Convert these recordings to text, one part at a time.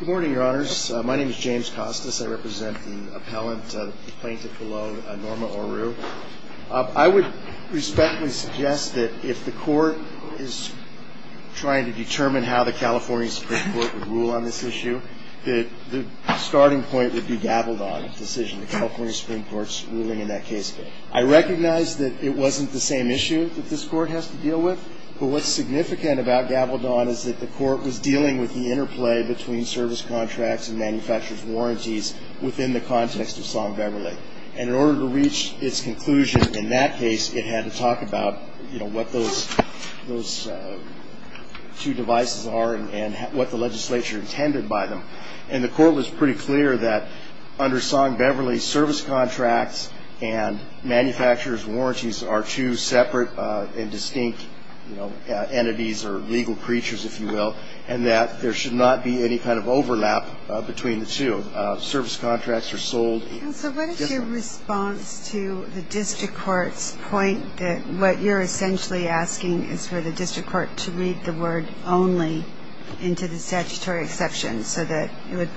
Good morning, your honors. My name is James Costas. I represent the appellant, the plaintiff below, Norma Orue. I would respectfully suggest that if the court is trying to determine how the California Supreme Court would rule on this issue, that the starting point would be Gabaldon's decision, the California Supreme Court's ruling in that case. I recognize that it wasn't the same issue that this court has to deal with, but what's significant about Gabaldon is that the court was dealing with the interplay between service contracts and manufacturer's warranties within the context of Song Beverly. And in order to reach its conclusion in that case, it had to talk about, you know, what those two devices are and what the legislature intended by them. And the court was pretty clear that under Song Beverly, service contracts and manufacturer's warranties are two separate and distinct, you know, entities or legal creatures, if you will, and that there should not be any kind of overlap between the two. Service contracts are sold differently. And so what is your response to the district court's point that what you're essentially asking is for the district court to read the word only into the statutory exception so that it would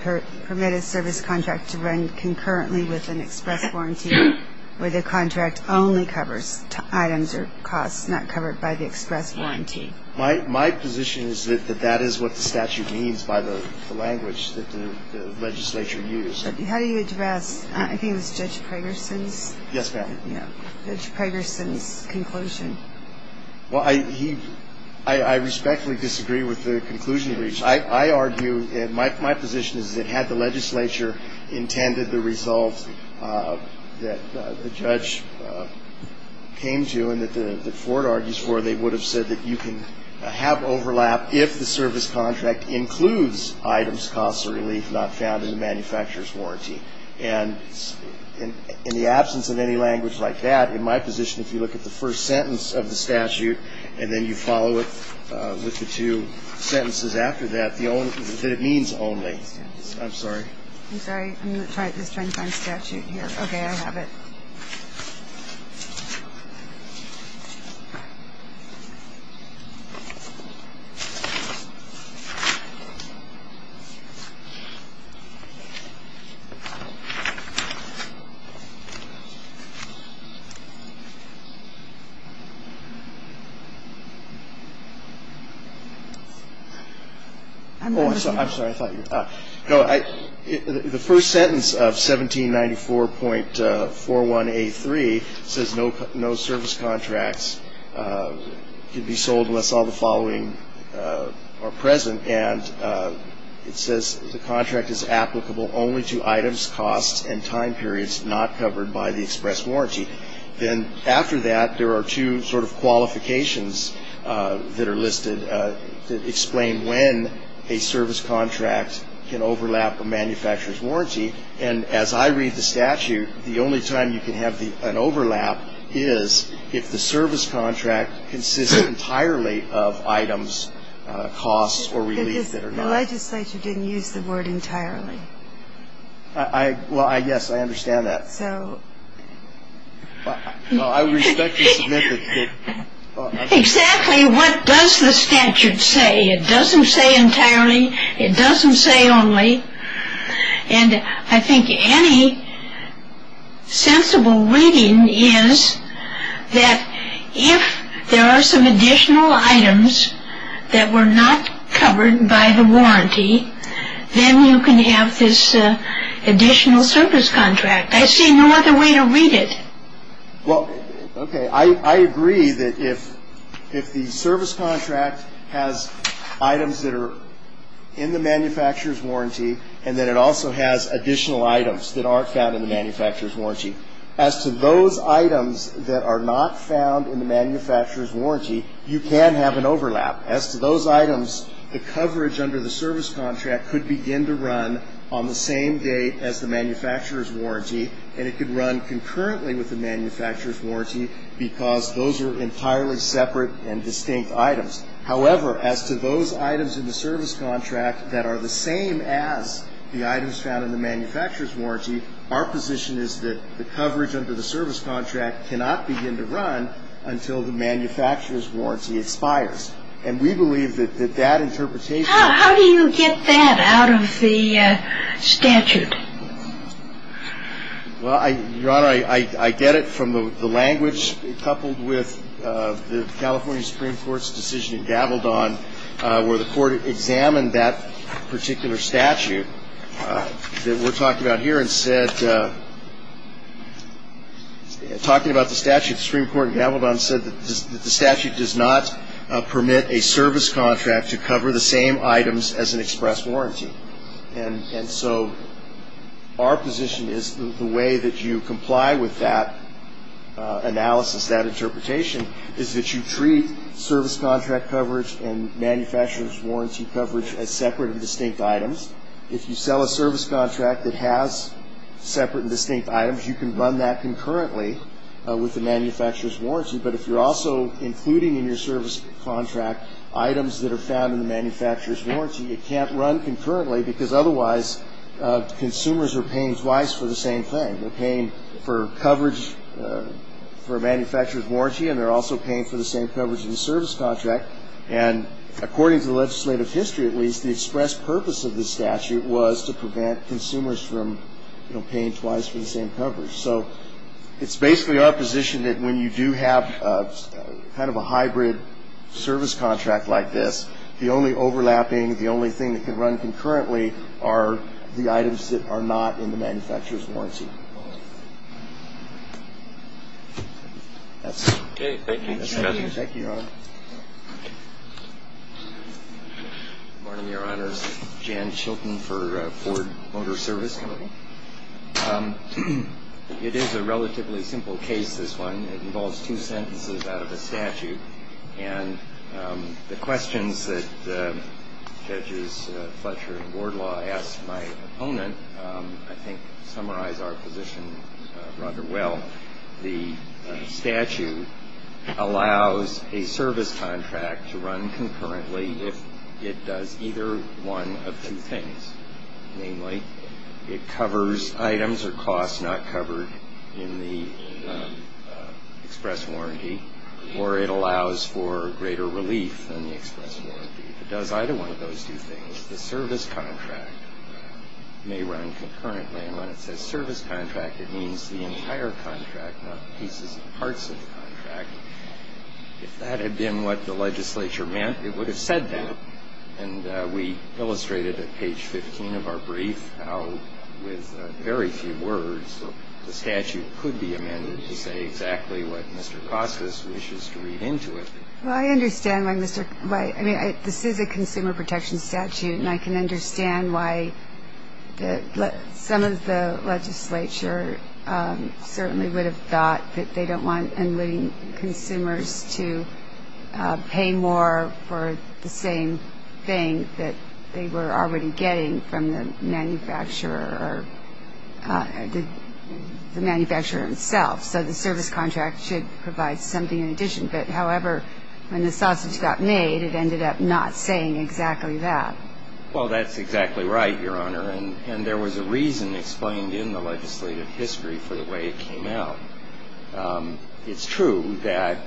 permit a service contract to run concurrently with an express warranty where the contract only covers items or costs not covered by the express warranty? My position is that that is what the statute means by the language that the legislature used. How do you address, I think it was Judge Pragerson's? Yes, ma'am. Judge Pragerson's conclusion. Well, I respectfully disagree with the conclusion reached. I argue, my position is that had the legislature intended the result that the judge came to and that Ford argues for, they would have said that you can have overlap if the service contract includes items, costs, or relief not found in the manufacturer's warranty. And in the absence of any language like that, in my position, if you look at the first sentence of the statute and then you follow it with the two sentences after that, that it means only. I'm sorry. I'm sorry. I'm just trying to find statute here. Okay, I have it. Oh, I'm sorry. I'm sorry. I thought you were talking. No, the first sentence of 1794.41A3 says no service contracts can be sold unless all the following are present. And it says the contract is applicable only to items, costs, and time periods not covered by the express warranty. Then after that, there are two sort of qualifications that are listed that explain when a service contract can overlap a manufacturer's warranty. And as I read the statute, the only time you can have an overlap is if the service contract consists entirely of items, costs, or relief that are not. The legislature didn't use the word entirely. Well, yes, I understand that. Well, I respect your submission. Exactly what does the statute say? It doesn't say entirely. It doesn't say only. And I think any sensible reading is that if there are some additional items that were not covered by the warranty, then you can have this additional service contract. I see no other way to read it. Well, okay, I agree that if the service contract has items that are in the manufacturer's warranty and then it also has additional items that aren't found in the manufacturer's warranty, as to those items that are not found in the manufacturer's warranty, you can have an overlap. As to those items, the coverage under the service contract could begin to run on the same date as the manufacturer's warranty, and it could run concurrently with the manufacturer's warranty because those are entirely separate and distinct items. However, as to those items in the service contract that are the same as the items found in the manufacturer's warranty, our position is that the coverage under the service contract cannot begin to run until the manufacturer's warranty expires. And we believe that that interpretation — How do you get that out of the statute? Well, Your Honor, I get it from the language coupled with the California Supreme Court's decision in Gavildon where the Court examined that particular statute that we're talking about here and said that talking about the statute, the Supreme Court in Gavildon said that the statute does not permit a service contract to cover the same items as an express warranty. And so our position is the way that you comply with that analysis, that interpretation, is that you treat service contract coverage and manufacturer's warranty coverage as separate and distinct items. If you sell a service contract that has separate and distinct items, you can run that concurrently with the manufacturer's warranty. But if you're also including in your service contract items that are found in the manufacturer's warranty, it can't run concurrently because otherwise consumers are paying twice for the same thing. They're paying for coverage for a manufacturer's warranty, and they're also paying for the same coverage in the service contract. And according to the legislative history, at least, the express purpose of this statute was to prevent consumers from paying twice for the same coverage. So it's basically our position that when you do have kind of a hybrid service contract like this, the only overlapping, the only thing that can run concurrently are the items that are not in the manufacturer's warranty. That's it. Okay. Thank you. Thank you, Your Honor. Good morning, Your Honor. Jan Chilton for Ford Motor Service Company. It is a relatively simple case, this one. It involves two sentences out of a statute. And the questions that Judges Fletcher and Wardlaw asked my opponent, I think, summarize our position rather well. The statute allows a service contract to run concurrently if it does either one of two things. Namely, it covers items or costs not covered in the express warranty, or it allows for greater relief than the express warranty. The statute allows for greater relief than the express warranty. It does either one of those two things. The service contract may run concurrently. And when it says service contract, it means the entire contract, not pieces and parts of the contract. If that had been what the legislature meant, it would have said that. And we illustrated at page 15 of our brief how, with very few words, the statute could be amended to say exactly what Mr. Kostas wishes to read into it. Well, I understand why Mr. Kostas – I mean, this is a consumer protection statute, and I can understand why some of the legislature certainly would have thought that they don't want consumers to pay more for the same thing that they were already getting from the manufacturer or the manufacturer himself. So the service contract should provide something in addition. But, however, when the sausage got made, it ended up not saying exactly that. Well, that's exactly right, Your Honor. And there was a reason explained in the legislative history for the way it came out. It's true that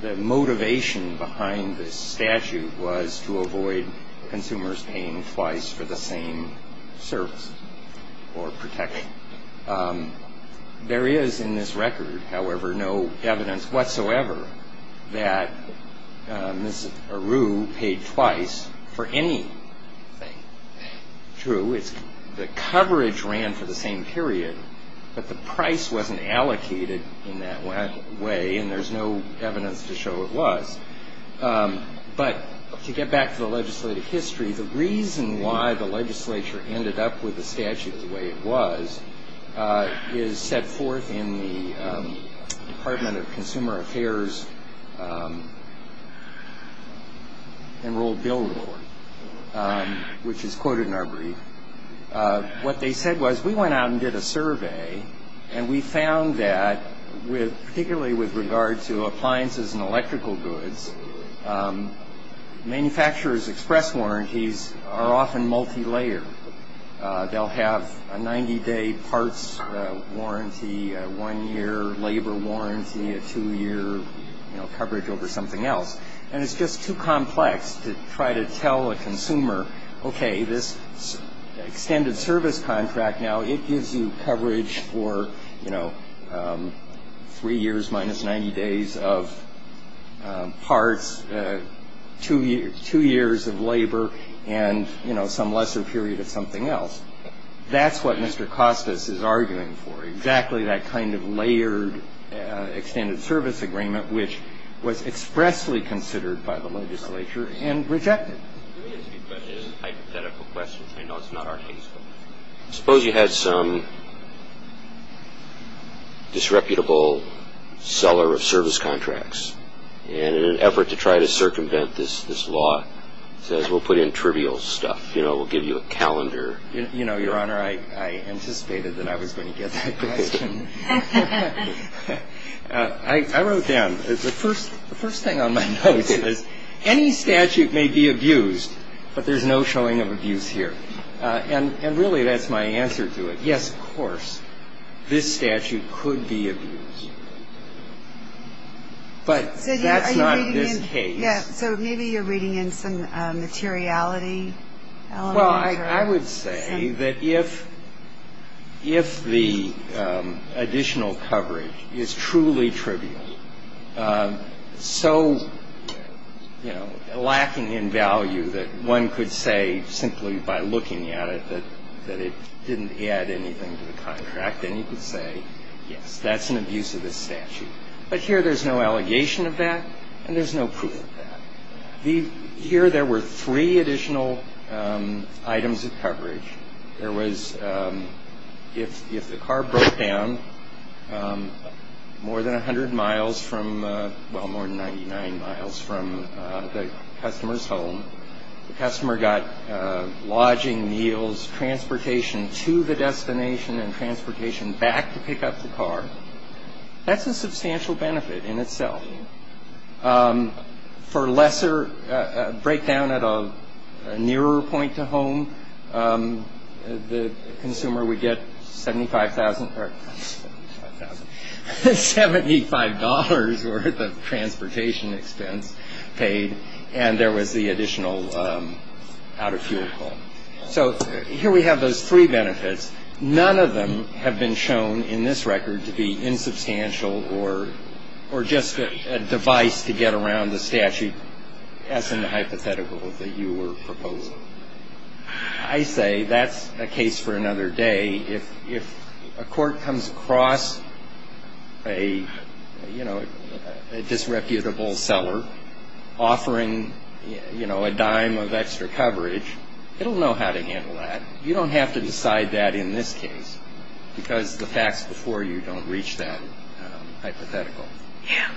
the motivation behind this statute was to avoid consumers paying twice for the same service or protection. There is, in this record, however, no evidence whatsoever that Ms. Aru paid twice for anything. True, the coverage ran for the same period, but the price wasn't allocated in that way, and there's no evidence to show it was. But to get back to the legislative history, the reason why the legislature ended up with the statute the way it was is set forth in the Department of Consumer Affairs Enrolled Bill Report, which is quoted in our brief. What they said was, we went out and did a survey, and we found that particularly with regard to appliances and electrical goods, manufacturer's express warranties are often multilayered. They'll have a 90-day parts warranty, a one-year labor warranty, a two-year coverage over something else. And it's just too complex to try to tell a consumer, okay, this extended service contract now, it gives you coverage for, you know, three years minus 90 days of parts, two years of labor, and, you know, some lesser period of something else. That's what Mr. Costas is arguing for, exactly that kind of layered extended service agreement, which was expressly considered by the legislature and rejected. It is a hypothetical question. I know it's not our case. Suppose you had some disreputable seller of service contracts, and in an effort to try to circumvent this law, says, we'll put in trivial stuff. You know, we'll give you a calendar. You know, Your Honor, I anticipated that I was going to get that question. I wrote down, the first thing on my notes is, any statute may be abused, but there's no showing of abuse here. And really, that's my answer to it. Yes, of course, this statute could be abused. But that's not this case. So maybe you're reading in some materiality element. Well, I would say that if the additional coverage is truly trivial, so, you know, lacking in value that one could say simply by looking at it that it didn't add anything to the contract, then you could say, yes, that's an abuse of this statute. But here there's no allegation of that, and there's no proof of that. Here there were three additional items of coverage. There was, if the car broke down more than 100 miles from, well, more than 99 miles from the customer's home, the customer got lodging, meals, transportation to the destination, and transportation back to pick up the car, that's a substantial benefit in itself. For lesser breakdown at a nearer point to home, the consumer would get $75,000 worth of transportation expense paid, and there was the additional out-of-fuel call. So here we have those three benefits. None of them have been shown in this record to be insubstantial or just a device to get around the statute as in the hypothetical that you were proposing. I say that's a case for another day. If a court comes across a, you know, a disreputable seller offering, you know, a dime of extra coverage, it'll know how to handle that. You don't have to decide that in this case because the facts before you don't reach that hypothetical.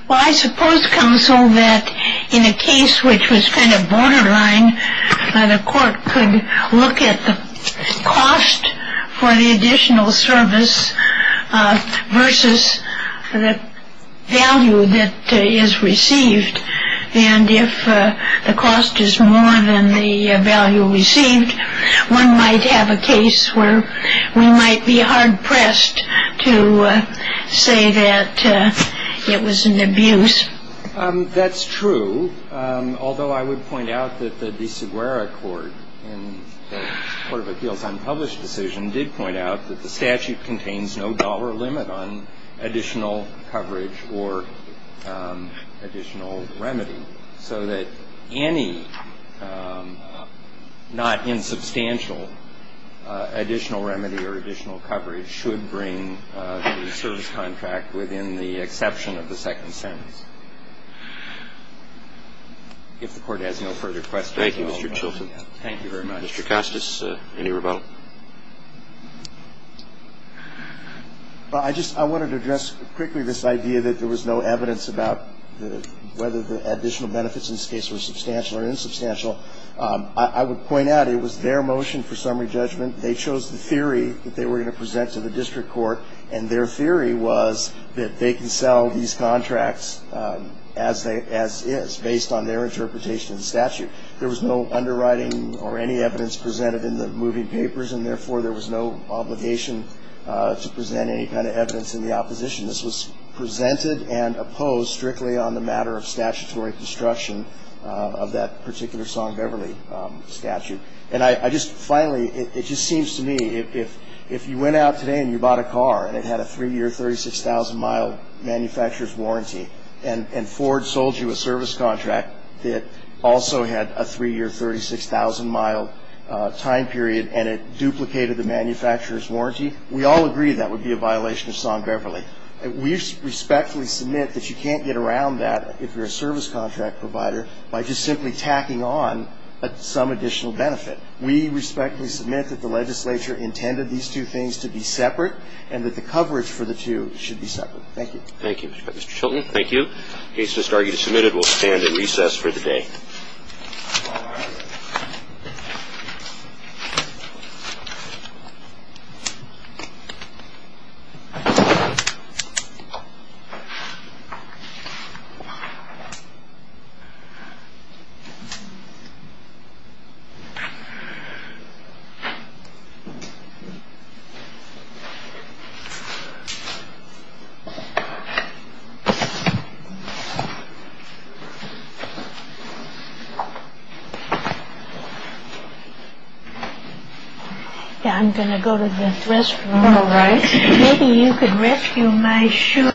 Well, I suppose, counsel, that in a case which was kind of borderline, the court could look at the cost for the additional service versus the value that is received. And if the cost is more than the value received, one might have a case where we might be hard-pressed to say that it was an abuse. That's true, although I would point out that the de Seguera court, in the Court of Appeals unpublished decision, did point out that the statute contains no dollar limit on additional coverage or additional remedy, so that any not insubstantial additional remedy or additional coverage should bring the service contract within the exception of the second sentence. If the Court has no further questions. Thank you, Mr. Chilton. Thank you very much. Mr. Costas, any rebuttal? I just wanted to address quickly this idea that there was no evidence about whether the additional benefits in this case were substantial or insubstantial. I would point out it was their motion for summary judgment. They chose the theory that they were going to present to the district court, and their theory was that they can sell these contracts as is, based on their interpretation of the statute. There was no underwriting or any evidence presented in the moving papers, and therefore there was no obligation to present any kind of evidence in the opposition. This was presented and opposed strictly on the matter of statutory construction of that particular Song Beverly statute. And I just finally, it just seems to me, if you went out today and you bought a car and it had a three-year, 36,000-mile manufacturer's warranty, and Ford sold you a service contract that also had a three-year, 36,000-mile time period and it duplicated the manufacturer's warranty, we all agree that would be a violation of Song Beverly. We respectfully submit that you can't get around that if you're a service contract provider by just simply tacking on some additional benefit. We respectfully submit that the legislature intended these two things to be separate and that the coverage for the two should be separate. Thank you. Thank you, Mr. Chilton. Thank you. The case is submitted. We'll stand at recess for the day. I'm going to go to the restroom. All right. Maybe you could rescue my shoe.